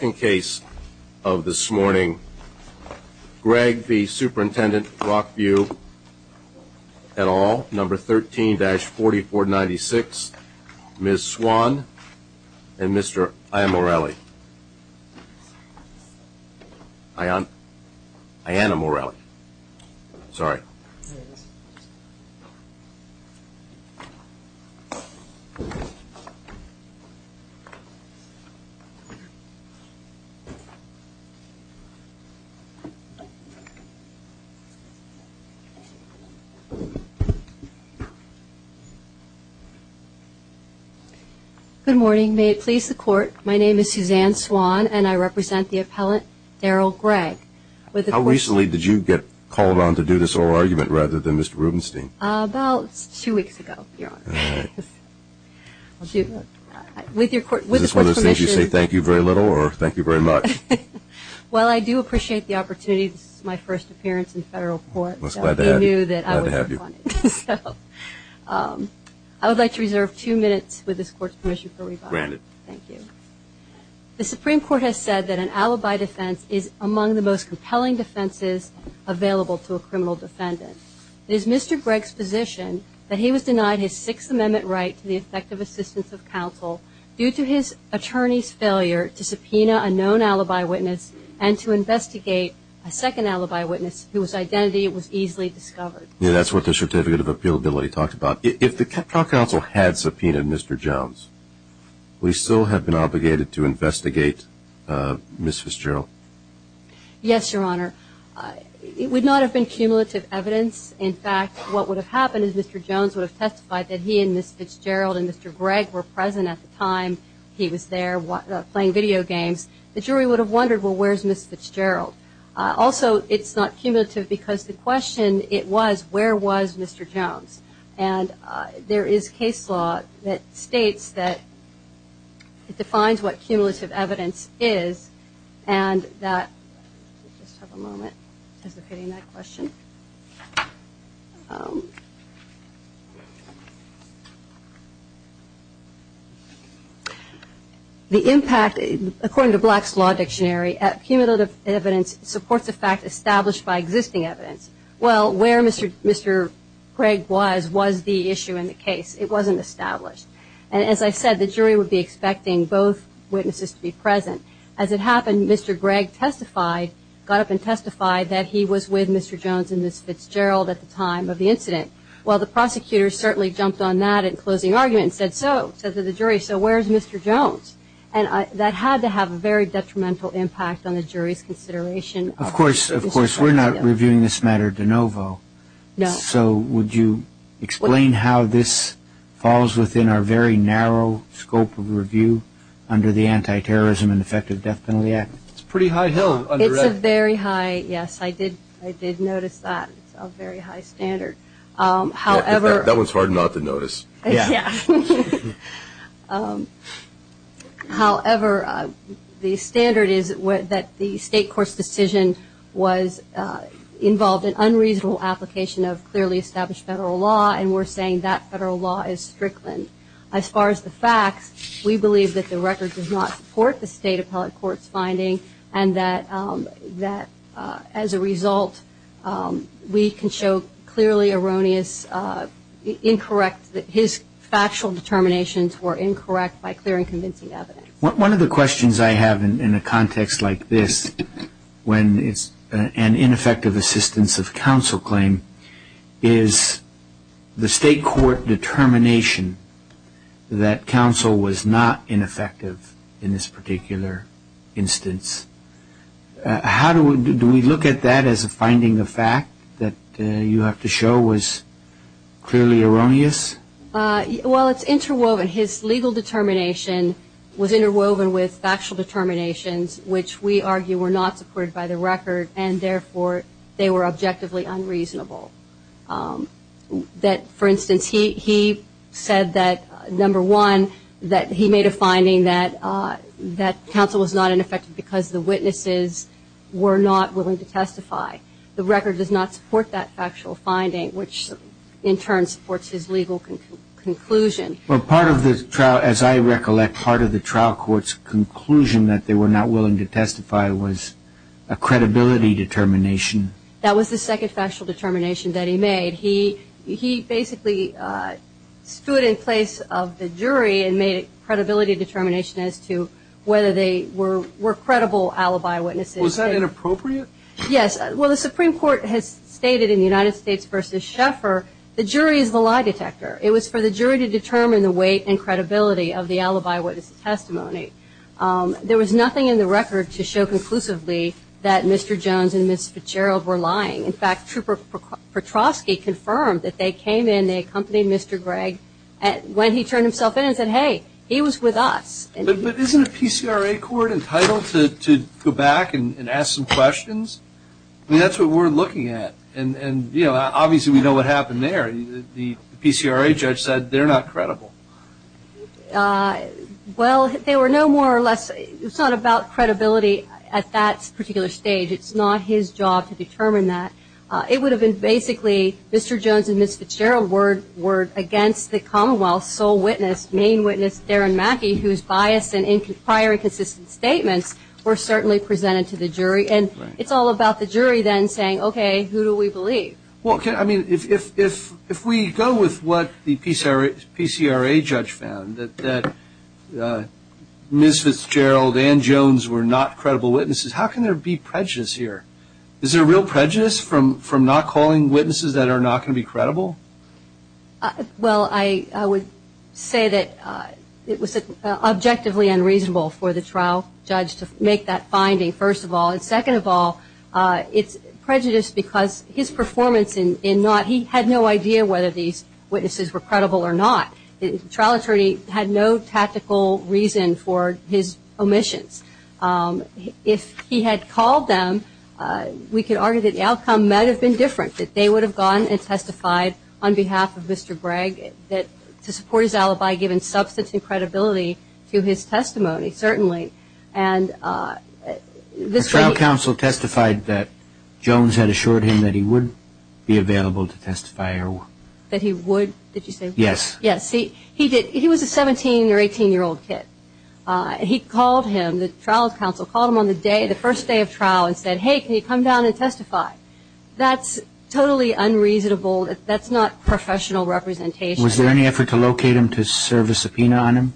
In case of this morning, Gregg v. Superintendent Rockview, et al, number 13-4496, Ms. Swan and Mr. Iannamorelli. Iannamorelli, sorry. Good morning. May it please the court, my name is Suzanne Swan and I represent the appellate Daryl Gregg. How recently did you get called on to do this oral argument rather than Mr. Rubenstein? About two weeks ago, Your Honor. With your court's permission. Does this mean you say thank you very little or thank you very much? Well, I do appreciate the opportunity. This is my first appearance in federal court. I'm glad to have you. I would like to reserve two minutes with this court's permission for rebuttal. Granted. Thank you. The Supreme Court has said that an alibi defense is among the most compelling defenses available to a criminal defendant. It is Mr. Gregg's position that he was denied his Sixth Amendment right to the effective assistance of counsel due to his attorney's failure to subpoena a known alibi witness and to investigate a second alibi witness whose identity was easily discovered. Yeah, that's what the certificate of appealability talked about. If the counsel had subpoenaed Mr. Jones, we still have been obligated to investigate Mrs. Jarrell. Yes, Your Honor. It would not have been cumulative evidence. In fact, what would have happened is Mr. Jones would have testified that he and Mrs. Fitzgerald and Mr. Gregg were present at the time he was there playing video games. The jury would have wondered, well, where's Mrs. Fitzgerald? Also, it's not cumulative because the question, it was, where was Mr. Jones? And there is case law that states that it defines what cumulative evidence is and that, just have a moment, I'm just looking at that question. The impact, according to Black's Law Dictionary, cumulative evidence supports a fact established by existing evidence. Well, where Mr. Gregg was was the issue in the case. It wasn't established. And as I said, the jury would be expecting both witnesses to be present. As it happened, Mr. Gregg testified, got up and testified that he was with Mr. Jones and Mrs. Fitzgerald at the time of the incident. Well, the prosecutor certainly jumped on that in closing argument and said so, said to the jury, so where's Mr. Jones? And that had to have a very detrimental impact on the jury's consideration. Of course, of course, we're not reviewing this matter de novo. No. So would you explain how this falls within our very narrow scope of review under the Anti-Terrorism and Effective Death Penalty Act? It's a pretty high hill. It's a very high, yes, I did notice that. It's a very high standard. That one's hard not to notice. Yeah. However, the standard is that the state court's decision was involved in unreasonable application of clearly established federal law, and we're saying that federal law is strickland. As far as the facts, we believe that the record does not support the state appellate court's finding and that as a result we can show clearly erroneous, incorrect, that his factual determinations were incorrect by clear and convincing evidence. One of the questions I have in a context like this when it's an ineffective assistance of counsel claim is the state court determination that counsel was not ineffective in this particular instance. How do we look at that as a finding of fact that you have to show was clearly erroneous? Well, it's interwoven. His legal determination was interwoven with factual determinations, which we argue were not supported by the record, and therefore they were objectively unreasonable. For instance, he said that, number one, that he made a finding that counsel was not ineffective because the witnesses were not willing to testify. The record does not support that factual finding, which in turn supports his legal conclusion. Well, part of the trial, as I recollect, part of the trial court's conclusion that they were not willing to testify was a credibility determination. That was the second factual determination that he made. He basically stood in place of the jury and made a credibility determination as to whether they were credible alibi witnesses. Was that inappropriate? Yes. Well, the Supreme Court has stated in the United States v. Schaeffer the jury is the lie detector. It was for the jury to determine the weight and credibility of the alibi witness testimony. There was nothing in the record to show conclusively that Mr. Jones and Ms. Fitzgerald were lying. In fact, Trooper Petroski confirmed that they came in, they accompanied Mr. Gregg, when he turned himself in and said, hey, he was with us. But isn't a PCRA court entitled to go back and ask some questions? I mean, that's what we're looking at, and, you know, obviously we know what happened there. The PCRA judge said they're not credible. Well, they were no more or less. It's not about credibility at that particular stage. It's not his job to determine that. It would have been basically Mr. Jones and Ms. Fitzgerald were against the Commonwealth sole witness, main witness Darren Mackey, whose bias and prior inconsistent statements were certainly presented to the jury. And it's all about the jury then saying, okay, who do we believe? Well, I mean, if we go with what the PCRA judge found, that Ms. Fitzgerald and Ms. Jones were not credible witnesses, how can there be prejudice here? Is there real prejudice from not calling witnesses that are not going to be credible? Well, I would say that it was objectively unreasonable for the trial judge to make that finding, first of all. And second of all, it's prejudice because his performance in Nott, he had no idea whether these witnesses were credible or not. The trial attorney had no tactical reason for his omissions. If he had called them, we could argue that the outcome might have been different, that they would have gone and testified on behalf of Mr. Gregg to support his alibi, given substance and credibility to his testimony, certainly. The trial counsel testified that Jones had assured him that he would be available to testify. That he would, did you say? Yes. Yes. He was a 17 or 18-year-old kid. He called him, the trial counsel called him on the day, the first day of trial, and said, hey, can you come down and testify? That's totally unreasonable. That's not professional representation. Was there any effort to locate him to serve a subpoena on him?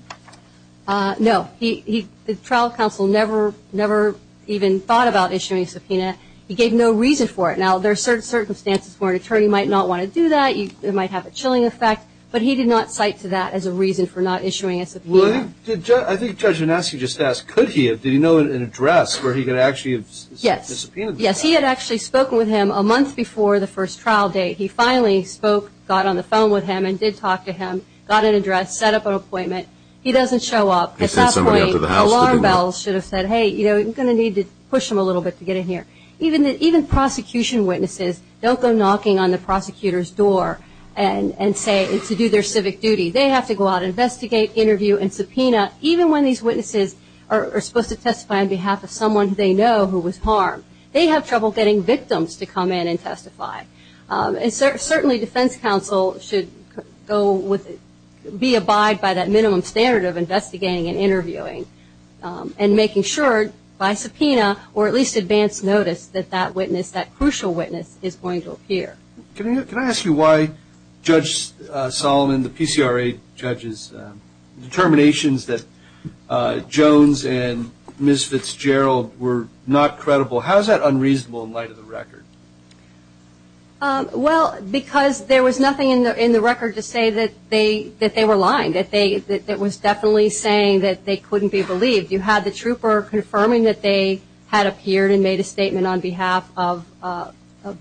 No. The trial counsel never even thought about issuing a subpoena. He gave no reason for it. Now, there are certain circumstances where an attorney might not want to do that. It might have a chilling effect. But he did not cite to that as a reason for not issuing a subpoena. I think Judge Anaske just asked, could he? Did he know an address where he could actually subpoena the trial? Yes. Yes, he had actually spoken with him a month before the first trial date. He finally spoke, got on the phone with him and did talk to him, got an address, set up an appointment. He doesn't show up. At that point, the alarm bells should have said, hey, you're going to need to push him a little bit to get in here. Even prosecution witnesses don't go knocking on the prosecutor's door and say to do their civic duty. They have to go out and investigate, interview, and subpoena, even when these witnesses are supposed to testify on behalf of someone they know who was harmed. They have trouble getting victims to come in and testify. And certainly defense counsel should go with it, be abide by that minimum standard of investigating and interviewing and making sure by subpoena or at least advance notice that that witness, that crucial witness, is going to appear. Can I ask you why Judge Solomon, the PCRA judge's determinations that Jones and Ms. Fitzgerald were not credible? How is that unreasonable in light of the record? Well, because there was nothing in the record to say that they were lying, that was definitely saying that they couldn't be believed. You had the trooper confirming that they had appeared and made a statement on behalf of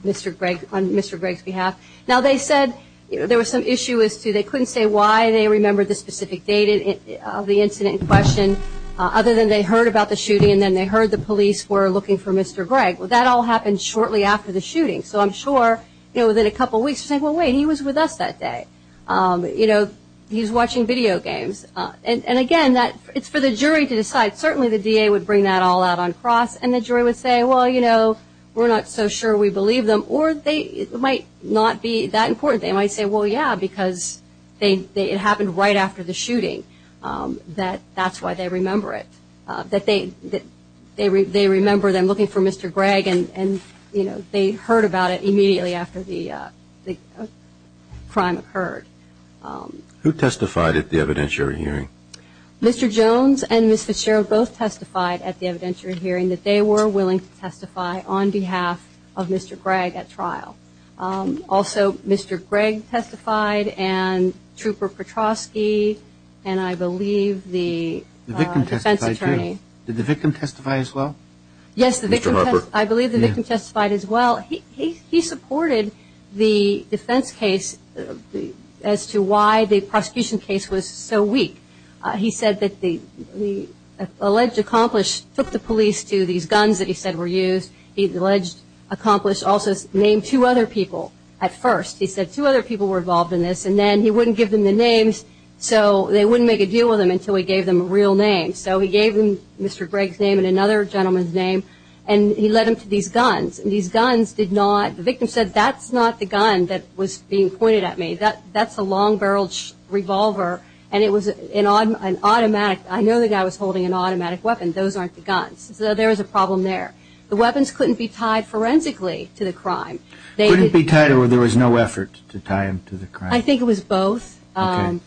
Mr. Gregg, on Mr. Gregg's behalf. Now they said there was some issue as to they couldn't say why they remembered the specific date of the incident in question, other than they heard about the shooting and then they heard the police were looking for Mr. Gregg. Well, that all happened shortly after the shooting. So I'm sure, you know, within a couple weeks, they're saying, well, wait, he was with us that day. You know, he's watching video games. And, again, it's for the jury to decide. Certainly the DA would bring that all out on cross and the jury would say, well, you know, we're not so sure we believe them. Or it might not be that important. They might say, well, yeah, because it happened right after the shooting. That's why they remember it, that they remember them looking for Mr. Gregg and, you know, they heard about it immediately after the crime occurred. Who testified at the evidentiary hearing? Mr. Jones and Ms. Fitzgerald both testified at the evidentiary hearing that they were willing to testify on behalf of Mr. Gregg at trial. Also Mr. Gregg testified and Trooper Petroski and I believe the defense attorney. The victim testified too. Did the victim testify as well? Yes, I believe the victim testified as well. He supported the defense case as to why the prosecution case was so weak. He said that the alleged accomplice took the police to these guns that he said were used. The alleged accomplice also named two other people at first. He said two other people were involved in this and then he wouldn't give them the names so they wouldn't make a deal with them until he gave them a real name. So he gave them Mr. Gregg's name and another gentleman's name and he led them to these guns and these guns did not, the victim said that's not the gun that was being pointed at me, that's a long-barreled revolver and it was an automatic, I know the guy was holding an automatic weapon, those aren't the guns. So there was a problem there. The weapons couldn't be tied forensically to the crime. Couldn't be tied or there was no effort to tie them to the crime? I think it was both,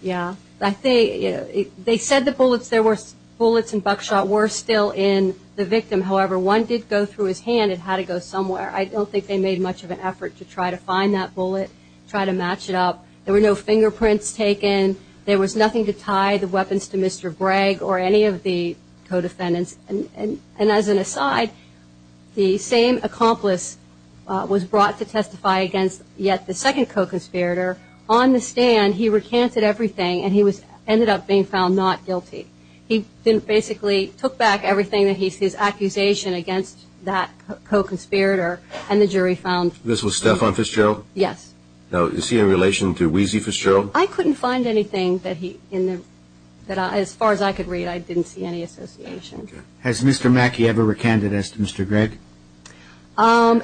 yeah. They said the bullets and buckshot were still in the victim. However, one did go through his hand and had it go somewhere. I don't think they made much of an effort to try to find that bullet, try to match it up. There were no fingerprints taken. There was nothing to tie the weapons to Mr. Gregg or any of the co-defendants. And as an aside, the same accomplice was brought to testify against yet the second co-conspirator. On the stand, he recanted everything and he ended up being found not guilty. He basically took back everything, his accusation against that co-conspirator and the jury found. This was Stefan Fitzgerald? Yes. Now, is he in relation to Wheezy Fitzgerald? I couldn't find anything that he, as far as I could read, I didn't see any association. Has Mr. Mackey ever recanted as to Mr. Gregg?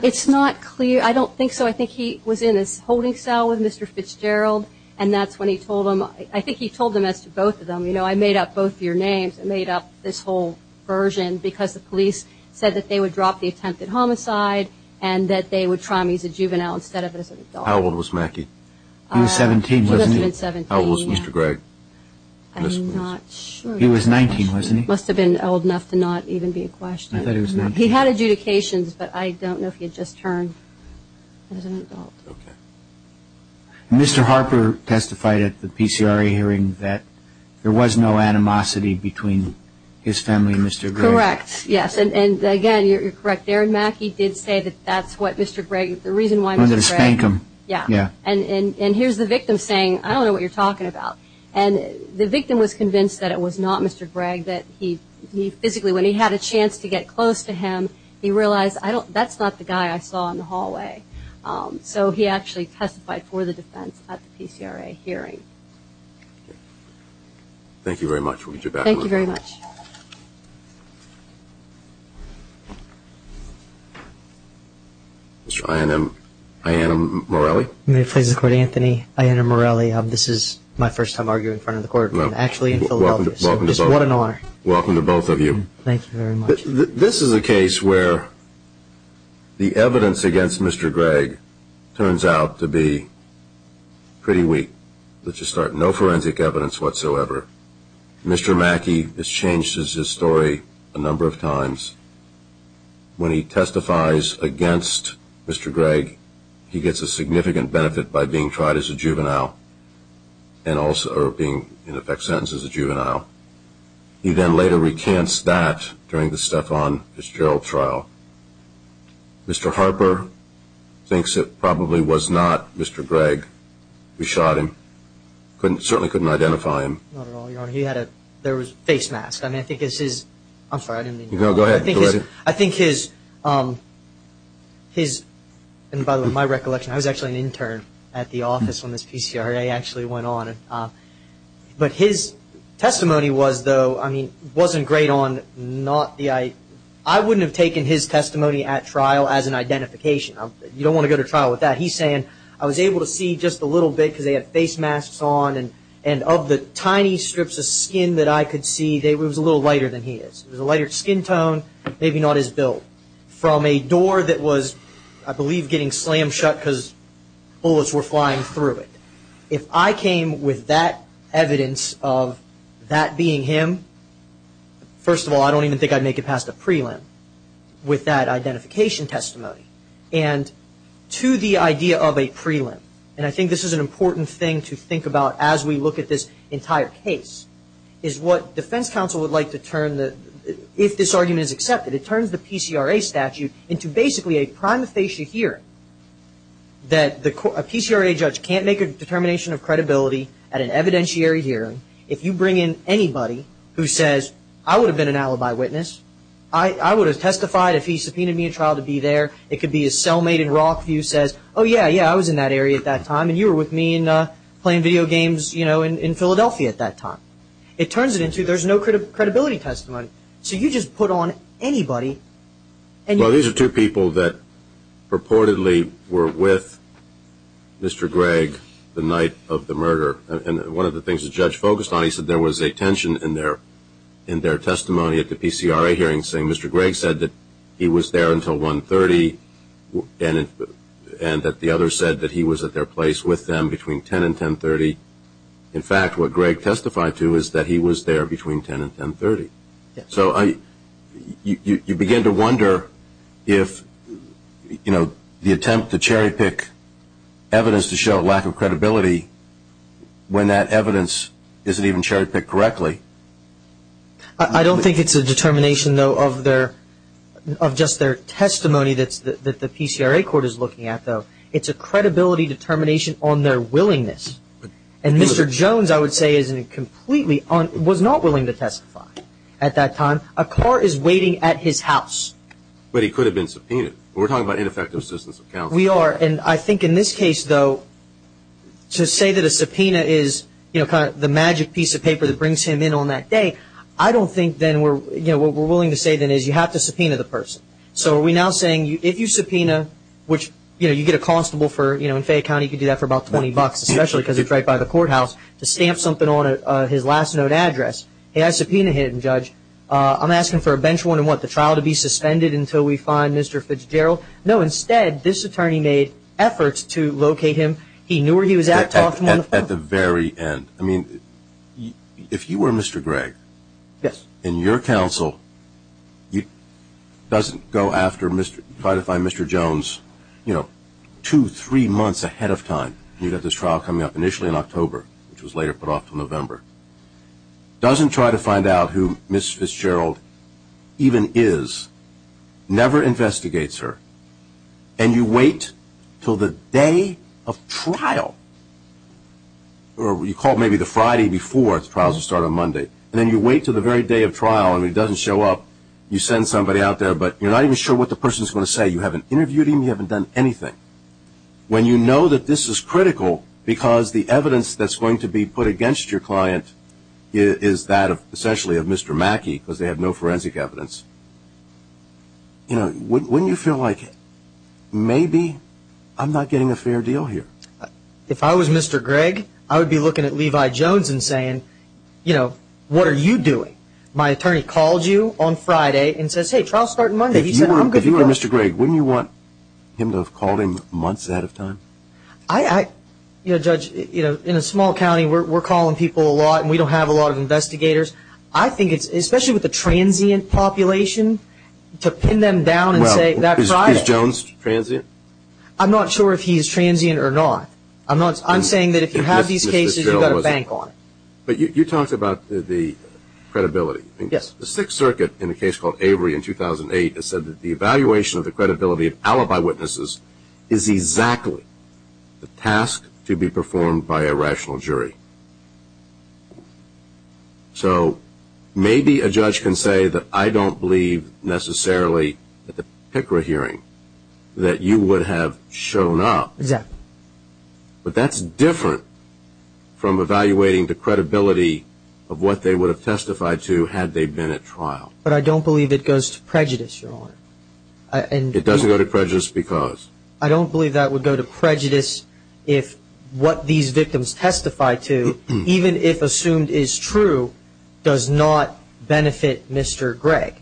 It's not clear. I don't think so. I think he was in his holding cell with Mr. Fitzgerald and that's when he told him. I think he told him as to both of them. You know, I made up both your names. I made up this whole version because the police said that they would drop the attempted homicide and that they would try him. He's a juvenile instead of an adult. How old was Mackey? He was 17, wasn't he? He must have been 17. How old was Mr. Gregg? I'm not sure. He was 19, wasn't he? He must have been old enough to not even be a question. I thought he was 19. He had adjudications, but I don't know if he had just turned as an adult. Okay. Mr. Harper testified at the PCRA hearing that there was no animosity between his family and Mr. Gregg. Correct. Yes. And, again, you're correct. Darren Mackey did say that that's what Mr. Gregg, the reason why Mr. Gregg. He wanted to spank him. Yeah. Yeah. And here's the victim saying, I don't know what you're talking about. And the victim was convinced that it was not Mr. Gregg, that he physically, when he had a chance to get close to him, he realized that's not the guy I saw in the hallway. So he actually testified for the defense at the PCRA hearing. Thank you very much. We'll get you back. Thank you very much. Mr. Iannamorelli? May it please the Court, Anthony? Iannamorelli. This is my first time arguing in front of the Court. I'm actually in Philadelphia, so just what an honor. Welcome to both of you. Thank you. Thank you very much. This is a case where the evidence against Mr. Gregg turns out to be pretty weak. Let's just start. No forensic evidence whatsoever. Mr. Mackey has changed his story a number of times. When he testifies against Mr. Gregg, he gets a significant benefit by being tried as a juvenile or being, in effect, sentenced as a juvenile. He then later recants that during the Stefan v. Gerald trial. Mr. Harper thinks it probably was not Mr. Gregg who shot him. Certainly couldn't identify him. Not at all, Your Honor. He had a face mask. I'm sorry, I didn't mean to interrupt. No, go ahead. I think his, and by the way, my recollection, I was actually an intern at the office when this PCRA actually went on. But his testimony was, though, I mean, wasn't great on not the eye. I wouldn't have taken his testimony at trial as an identification. You don't want to go to trial with that. He's saying, I was able to see just a little bit because they had face masks on, and of the tiny strips of skin that I could see, it was a little lighter than he is. It was a lighter skin tone, maybe not as built. From a door that was, I believe, getting slammed shut because bullets were flying through it. If I came with that evidence of that being him, first of all, I don't even think I'd make it past a prelim with that identification testimony. And to the idea of a prelim, and I think this is an important thing to think about as we look at this entire case, is what defense counsel would like to turn, if this argument is accepted, it turns the PCRA statute into basically a prima facie hearing, that a PCRA judge can't make a determination of credibility at an evidentiary hearing if you bring in anybody who says, I would have been an alibi witness. I would have testified if he subpoenaed me at trial to be there. It could be a cellmate in Rockview says, oh, yeah, yeah, I was in that area at that time, and you were with me playing video games in Philadelphia at that time. It turns it into there's no credibility testimony. So you just put on anybody. Well, these are two people that purportedly were with Mr. Gregg the night of the murder. And one of the things the judge focused on, he said there was a tension in their testimony at the PCRA hearing, saying Mr. Gregg said that he was there until 1.30, and that the other said that he was at their place with them between 10 and 10.30. In fact, what Gregg testified to is that he was there between 10 and 10.30. So you begin to wonder if the attempt to cherry-pick evidence to show a lack of credibility, when that evidence isn't even cherry-picked correctly. I don't think it's a determination, though, of just their testimony that the PCRA court is looking at, though. It's a credibility determination on their willingness. And Mr. Jones, I would say, was not willing to testify at that time. A car is waiting at his house. But he could have been subpoenaed. We're talking about ineffective assistance of counsel. We are. And I think in this case, though, to say that a subpoena is the magic piece of paper that brings him in on that day, I don't think then what we're willing to say then is you have to subpoena the person. So are we now saying if you subpoena, which, you know, you get a constable for, you know, in Fayette County, you could do that for about $20, especially because it's right by the courthouse, to stamp something on his last note address, he has a subpoena hidden, Judge. I'm asking for a bench warrant on what? The trial to be suspended until we find Mr. Fitzgerald? No, instead, this attorney made efforts to locate him. He knew where he was at. At the very end. I mean, if you were Mr. Gregg, and your counsel doesn't go after Mr. Try to find Mr. Jones, you know, two, three months ahead of time. You've got this trial coming up initially in October, which was later put off to November. Doesn't try to find out who Ms. Fitzgerald even is. Never investigates her. And you wait until the day of trial. Or you call maybe the Friday before trials start on Monday. And then you wait until the very day of trial, and he doesn't show up. You send somebody out there, but you're not even sure what the person is going to say. You haven't interviewed him. You haven't done anything. When you know that this is critical because the evidence that's going to be put against your client is that of, essentially, of Mr. Mackey because they have no forensic evidence. You know, wouldn't you feel like maybe I'm not getting a fair deal here? If I was Mr. Gregg, I would be looking at Levi Jones and saying, you know, what are you doing? My attorney called you on Friday and says, hey, trials start Monday. He said, I'm good to go. If you were Mr. Gregg, wouldn't you want him to have called him months ahead of time? You know, Judge, in a small county, we're calling people a lot, and we don't have a lot of investigators. I think it's, especially with the transient population, to pin them down and say that's right. Well, is Jones transient? I'm not sure if he's transient or not. I'm saying that if you have these cases, you've got to bank on it. But you talked about the credibility. Yes. The Sixth Circuit, in a case called Avery in 2008, has said that the evaluation of the credibility of alibi witnesses is exactly the task to be performed by a rational jury. So maybe a judge can say that I don't believe necessarily at the PICRA hearing that you would have shown up. Exactly. But that's different from evaluating the credibility of what they would have testified to had they been at trial. But I don't believe it goes to prejudice, Your Honor. It doesn't go to prejudice because? I don't believe that would go to prejudice if what these victims testify to, even if assumed is true, does not benefit Mr. Gregg.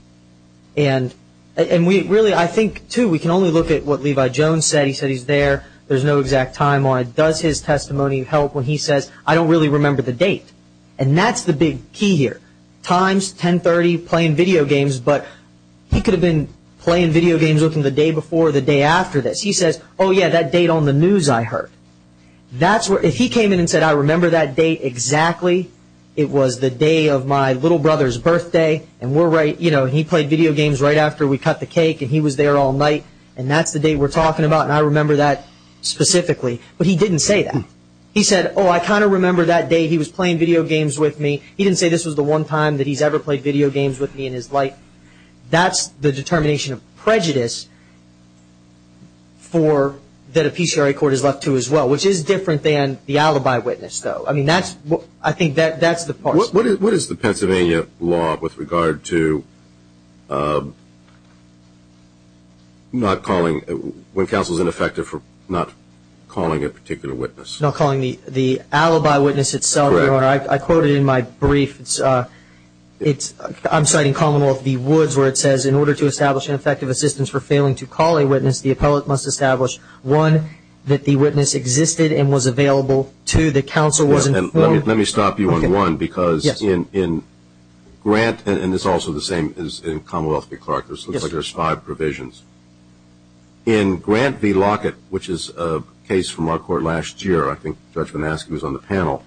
And really, I think, too, we can only look at what Levi Jones said. He said he's there. There's no exact timeline. Does his testimony help when he says, I don't really remember the date? And that's the big key here. Times 1030, playing video games, but he could have been playing video games with him the day before or the day after this. He says, oh, yeah, that date on the news I heard. If he came in and said, I remember that date exactly, it was the day of my little brother's birthday, and he played video games right after we cut the cake and he was there all night, and that's the date we're talking about, and I remember that specifically. But he didn't say that. He said, oh, I kind of remember that day. He was playing video games with me. He didn't say this was the one time that he's ever played video games with me in his life. That's the determination of prejudice that a PCRA court is left to as well, which is different than the alibi witness, though. I mean, I think that's the part. What is the Pennsylvania law with regard to not calling when counsel is ineffective for not calling a particular witness? Not calling the alibi witness itself, Your Honor. I quote it in my brief. I'm citing Commonwealth v. Woods where it says, in order to establish an effective assistance for failing to call a witness, the appellate must establish, one, that the witness existed and was available, two, that counsel was informed. Let me stop you on one because in Grant, and it's also the same as in Commonwealth v. Clark. It looks like there's five provisions. In Grant v. Lockett, which is a case from our court last year, I think Judge Manaske was on the panel,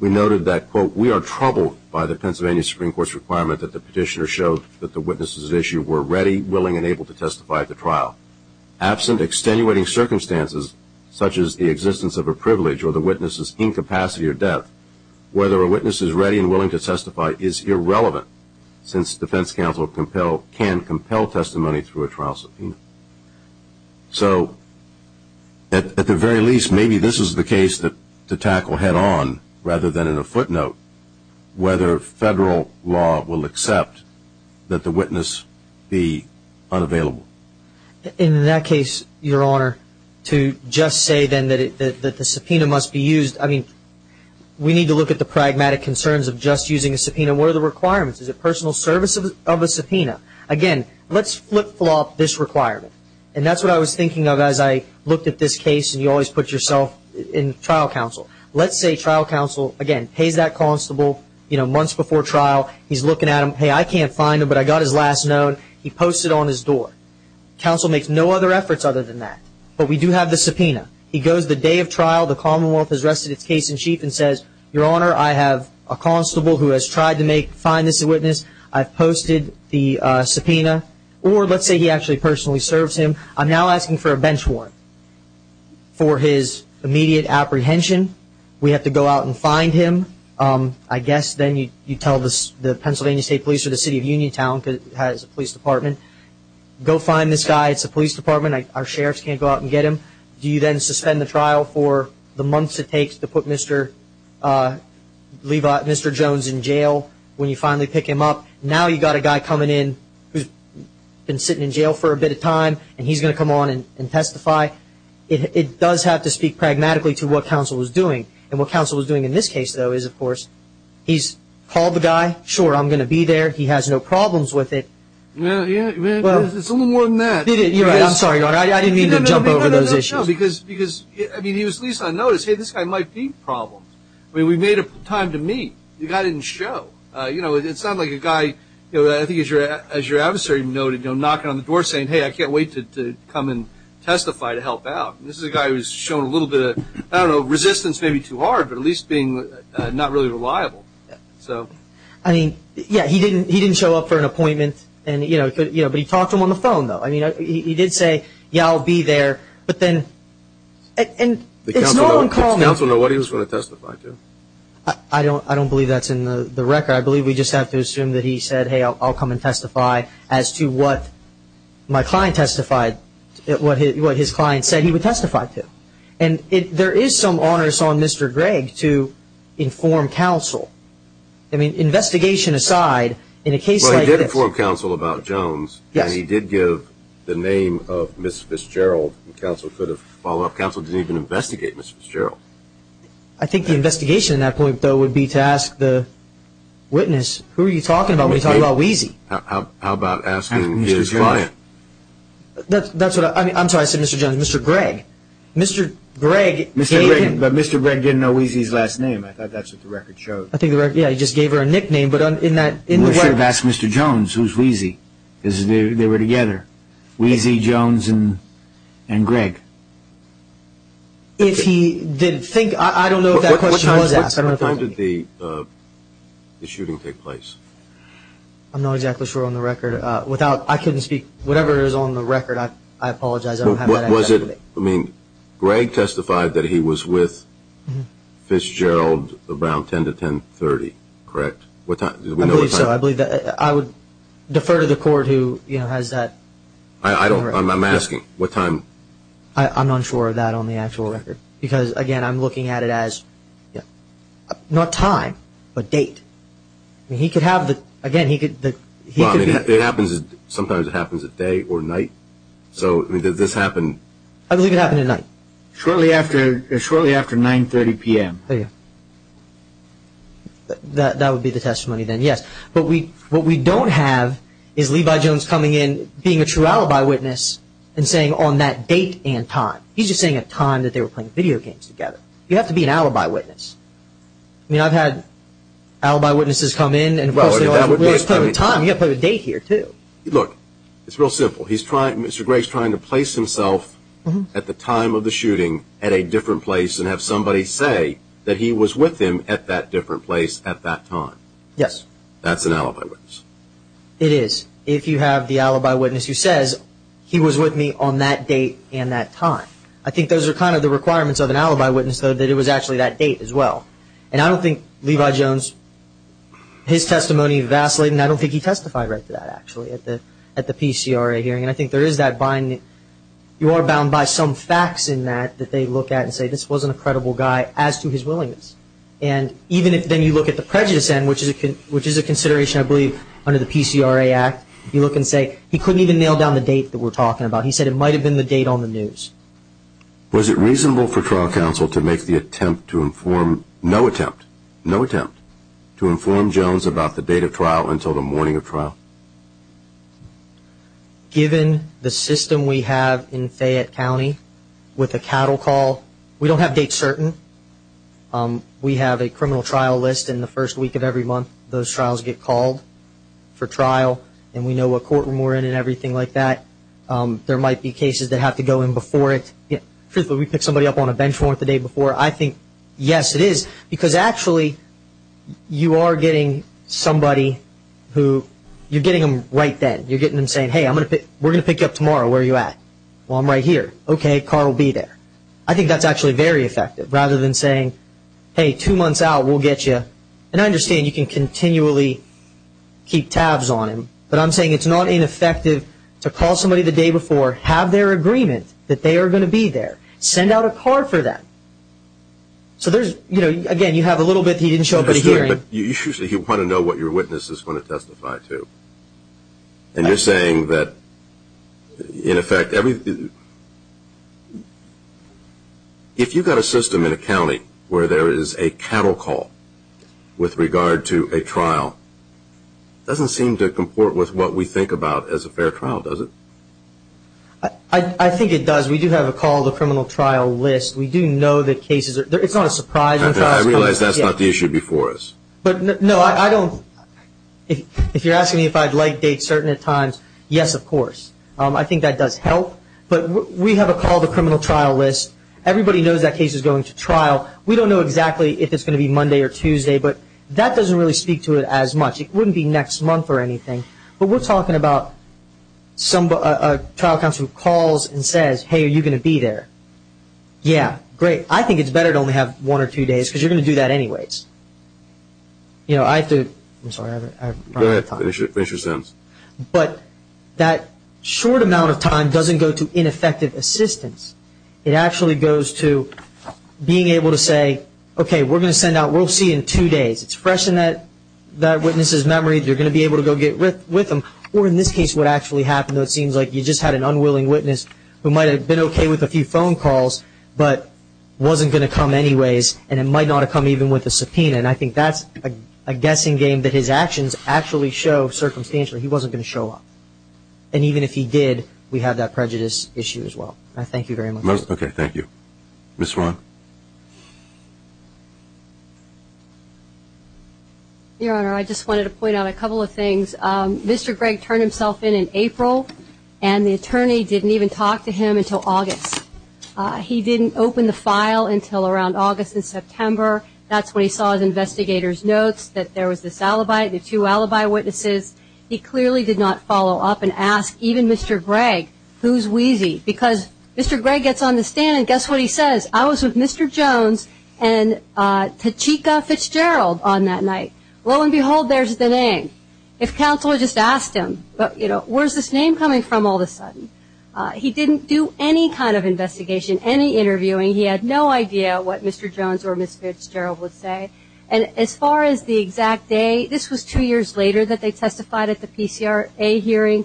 we noted that, quote, we are troubled by the Pennsylvania Supreme Court's requirement that the petitioner show that the witnesses at issue were ready, willing, and able to testify at the trial. Absent extenuating circumstances such as the existence of a privilege or the witness's incapacity or death, whether a witness is ready and willing to testify is irrelevant since defense counsel can compel testimony through a trial subpoena. So at the very least, maybe this is the case to tackle head-on rather than in a footnote, whether federal law will accept that the witness be unavailable. In that case, Your Honor, to just say then that the subpoena must be used, I mean, we need to look at the pragmatic concerns of just using a subpoena. What are the requirements? Is it personal service of a subpoena? Again, let's flip-flop this requirement, and that's what I was thinking of as I looked at this case, and you always put yourself in trial counsel. Let's say trial counsel, again, pays that constable months before trial. He's looking at them. Hey, I can't find him, but I got his last note. He posts it on his door. Counsel makes no other efforts other than that, but we do have the subpoena. He goes the day of trial. The Commonwealth has rested its case in chief and says, Your Honor, I have a constable who has tried to find this witness. I've posted the subpoena, or let's say he actually personally serves him. I'm now asking for a bench warrant for his immediate apprehension. We have to go out and find him. I guess then you tell the Pennsylvania State Police or the City of Uniontown, because it has a police department, go find this guy. It's a police department. Our sheriffs can't go out and get him. Do you then suspend the trial for the months it takes to put Mr. Jones in jail? When you finally pick him up. Now you've got a guy coming in who's been sitting in jail for a bit of time, and he's going to come on and testify. It does have to speak pragmatically to what counsel is doing, and what counsel is doing in this case, though, is, of course, he's called the guy. Sure, I'm going to be there. He has no problems with it. Well, it's a little more than that. You're right. I'm sorry, Your Honor. I didn't mean to jump over those issues. No, because, I mean, he was least unnoticed. Hey, this guy might be a problem. I mean, we made time to meet. The guy didn't show. You know, it sounded like a guy, I think, as your adversary noted, knocking on the door saying, hey, I can't wait to come and testify to help out. This is a guy who's shown a little bit of, I don't know, resistance, maybe too hard, but at least being not really reliable. I mean, yeah, he didn't show up for an appointment, but he talked to him on the phone, though. I mean, he did say, yeah, I'll be there. But then it's no one called me. Does counsel know what he was going to testify to? I don't believe that's in the record. I believe we just have to assume that he said, hey, I'll come and testify as to what my client testified, what his client said he would testify to. And there is some onerous on Mr. Gregg to inform counsel. I mean, investigation aside, in a case like this. Well, he did inform counsel about Jones. Yes. And he did give the name of Ms. Gerald. Counsel could have followed up. Counsel didn't even investigate Ms. Gerald. I think the investigation at that point, though, would be to ask the witness, who are you talking about when you talk about Wheezy? How about asking his client? That's what I'm, I'm sorry, I said Mr. Jones, Mr. Gregg. Mr. Gregg gave him. Mr. Gregg, but Mr. Gregg didn't know Wheezy's last name. I thought that's what the record showed. I think the record, yeah, he just gave her a nickname, but in that, in the record. We should have asked Mr. Jones who's Wheezy, because they were together. Wheezy, Jones, and Gregg. If he did think, I don't know if that question was asked. What time did the shooting take place? I'm not exactly sure on the record. Without, I couldn't speak. Whatever is on the record, I apologize. Was it, I mean, Gregg testified that he was with Fitzgerald around 10 to 10.30, correct? I believe so. I believe that. I would defer to the court who, you know, has that. I don't remember. I'm asking what time. I'm not sure of that on the actual record, because, again, I'm looking at it as, not time, but date. I mean, he could have the, again, he could. Well, I mean, it happens, sometimes it happens at day or night. So, I mean, did this happen? I believe it happened at night. Shortly after, shortly after 9.30 p.m. That would be the testimony then, yes. But what we don't have is Levi Jones coming in, being a true alibi witness, and saying on that date and time. He's just saying a time that they were playing video games together. You have to be an alibi witness. I mean, I've had alibi witnesses come in and, of course, they always tell the time. You have to put a date here, too. Look, it's real simple. He's trying, Mr. Gregg's trying to place himself at the time of the shooting at a different place and have somebody say that he was with him at that different place at that time. Yes. That's an alibi witness. It is. If you have the alibi witness who says he was with me on that date and that time. I think those are kind of the requirements of an alibi witness, though, that it was actually that date as well. And I don't think Levi Jones, his testimony vacillating, I don't think he testified right to that, actually, at the PCRA hearing. And I think there is that binding. You are bound by some facts in that that they look at and say this wasn't a credible guy as to his willingness. And even if then you look at the prejudice end, which is a consideration, I believe, under the PCRA Act, you look and say he couldn't even nail down the date that we're talking about. He said it might have been the date on the news. Was it reasonable for trial counsel to make the attempt to inform, no attempt, no attempt, to inform Jones about the date of trial until the morning of trial? Given the system we have in Fayette County with the cattle call, we don't have dates certain. We have a criminal trial list in the first week of every month. Those trials get called for trial. And we know what courtroom we're in and everything like that. There might be cases that have to go in before it. Truthfully, we pick somebody up on a bench for it the day before. I think, yes, it is, because actually you are getting somebody who you're getting them right then. You're getting them saying, hey, we're going to pick you up tomorrow. Where are you at? Well, I'm right here. Okay, Carl, be there. I think that's actually very effective rather than saying, hey, two months out, we'll get you. And I understand you can continually keep tabs on him, but I'm saying it's not ineffective to call somebody the day before, have their agreement that they are going to be there, send out a card for them. So there's, you know, again, you have a little bit he didn't show up at a hearing. But you want to know what your witness is going to testify to. And you're saying that, in effect, if you've got a system in a county where there is a cattle call with regard to a trial, it doesn't seem to comport with what we think about as a fair trial, does it? I think it does. We do have a call to criminal trial list. We do know that cases are – it's not a surprise. I realize that's not the issue before us. But, no, I don't – if you're asking me if I'd like dates certain at times, yes, of course. I think that does help. But we have a call to criminal trial list. Everybody knows that case is going to trial. We don't know exactly if it's going to be Monday or Tuesday. But that doesn't really speak to it as much. It wouldn't be next month or anything. But we're talking about a trial counsel who calls and says, hey, are you going to be there? Yeah, great. I think it's better to only have one or two days because you're going to do that anyways. You know, I have to – I'm sorry. I've run out of time. Go ahead. Finish your sentence. But that short amount of time doesn't go to ineffective assistance. It actually goes to being able to say, okay, we're going to send out – we'll see you in two days. It's fresh in that witness's memory. You're going to be able to go get with them. Or, in this case, what actually happened, it seems like you just had an unwilling witness who might have been okay with a few phone calls, but wasn't going to come anyways, and it might not have come even with a subpoena. And I think that's a guessing game that his actions actually show circumstantially he wasn't going to show up. And even if he did, we have that prejudice issue as well. I thank you very much. Okay. Thank you. Ms. Rahn. Your Honor, I just wanted to point out a couple of things. Mr. Gregg turned himself in in April, and the attorney didn't even talk to him until August. He didn't open the file until around August and September. That's when he saw his investigator's notes that there was this alibi, the two alibi witnesses. He clearly did not follow up and ask even Mr. Gregg, who's Wheezy? Because Mr. Gregg gets on the stand, and guess what he says? I was with Mr. Jones and Tachika Fitzgerald on that night. Lo and behold, there's the name. If counsel had just asked him, you know, where's this name coming from all of a sudden? He didn't do any kind of investigation, any interviewing. He had no idea what Mr. Jones or Ms. Fitzgerald would say. And as far as the exact day, this was two years later that they testified at the PCRA hearing.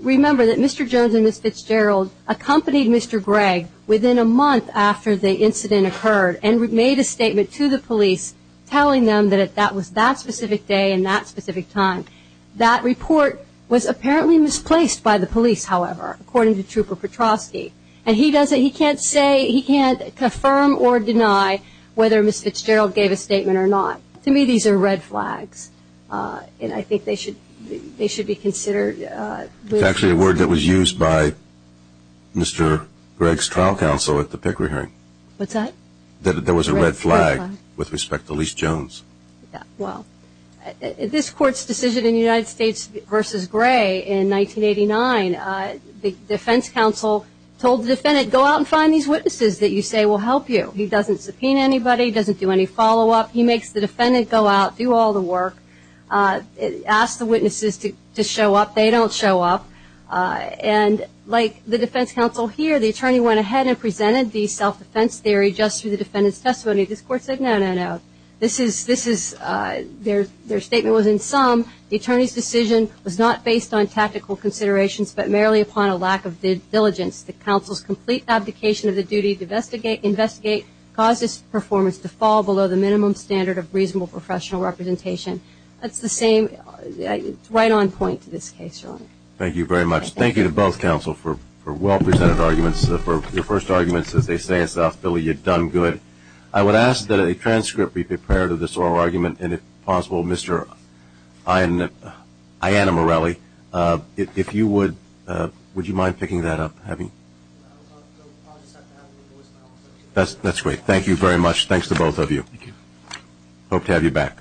Remember that Mr. Jones and Ms. Fitzgerald accompanied Mr. Gregg within a month after the incident occurred and made a statement to the police telling them that that was that specific day and that specific time. That report was apparently misplaced by the police, however, according to Trooper Petroski. And he can't say, he can't confirm or deny whether Ms. Fitzgerald gave a statement or not. To me, these are red flags, and I think they should be considered. It's actually a word that was used by Mr. Gregg's trial counsel at the PCRA hearing. What's that? That there was a red flag with respect to Elyse Jones. Well, this Court's decision in United States v. Gray in 1989, the defense counsel told the defendant, go out and find these witnesses that you say will help you. He doesn't subpoena anybody. He doesn't do any follow-up. He makes the defendant go out, do all the work, ask the witnesses to show up. They don't show up. And like the defense counsel here, the attorney went ahead and presented the self-defense theory just through the defendant's testimony. This Court said, no, no, no. Their statement was, in sum, the attorney's decision was not based on tactical considerations but merely upon a lack of diligence. The counsel's complete abdication of the duty to investigate caused his performance to fall below the minimum standard of reasonable professional representation. That's the same right-on point to this case. Thank you very much. Thank you to both counsel for well-presented arguments, for your first arguments as they say in South Philly, you've done good. I would ask that a transcript be prepared of this oral argument, and if possible, Mr. Ayanna Morelli, if you would, would you mind picking that up? That's great. Thank you very much. Thanks to both of you. Hope to have you back.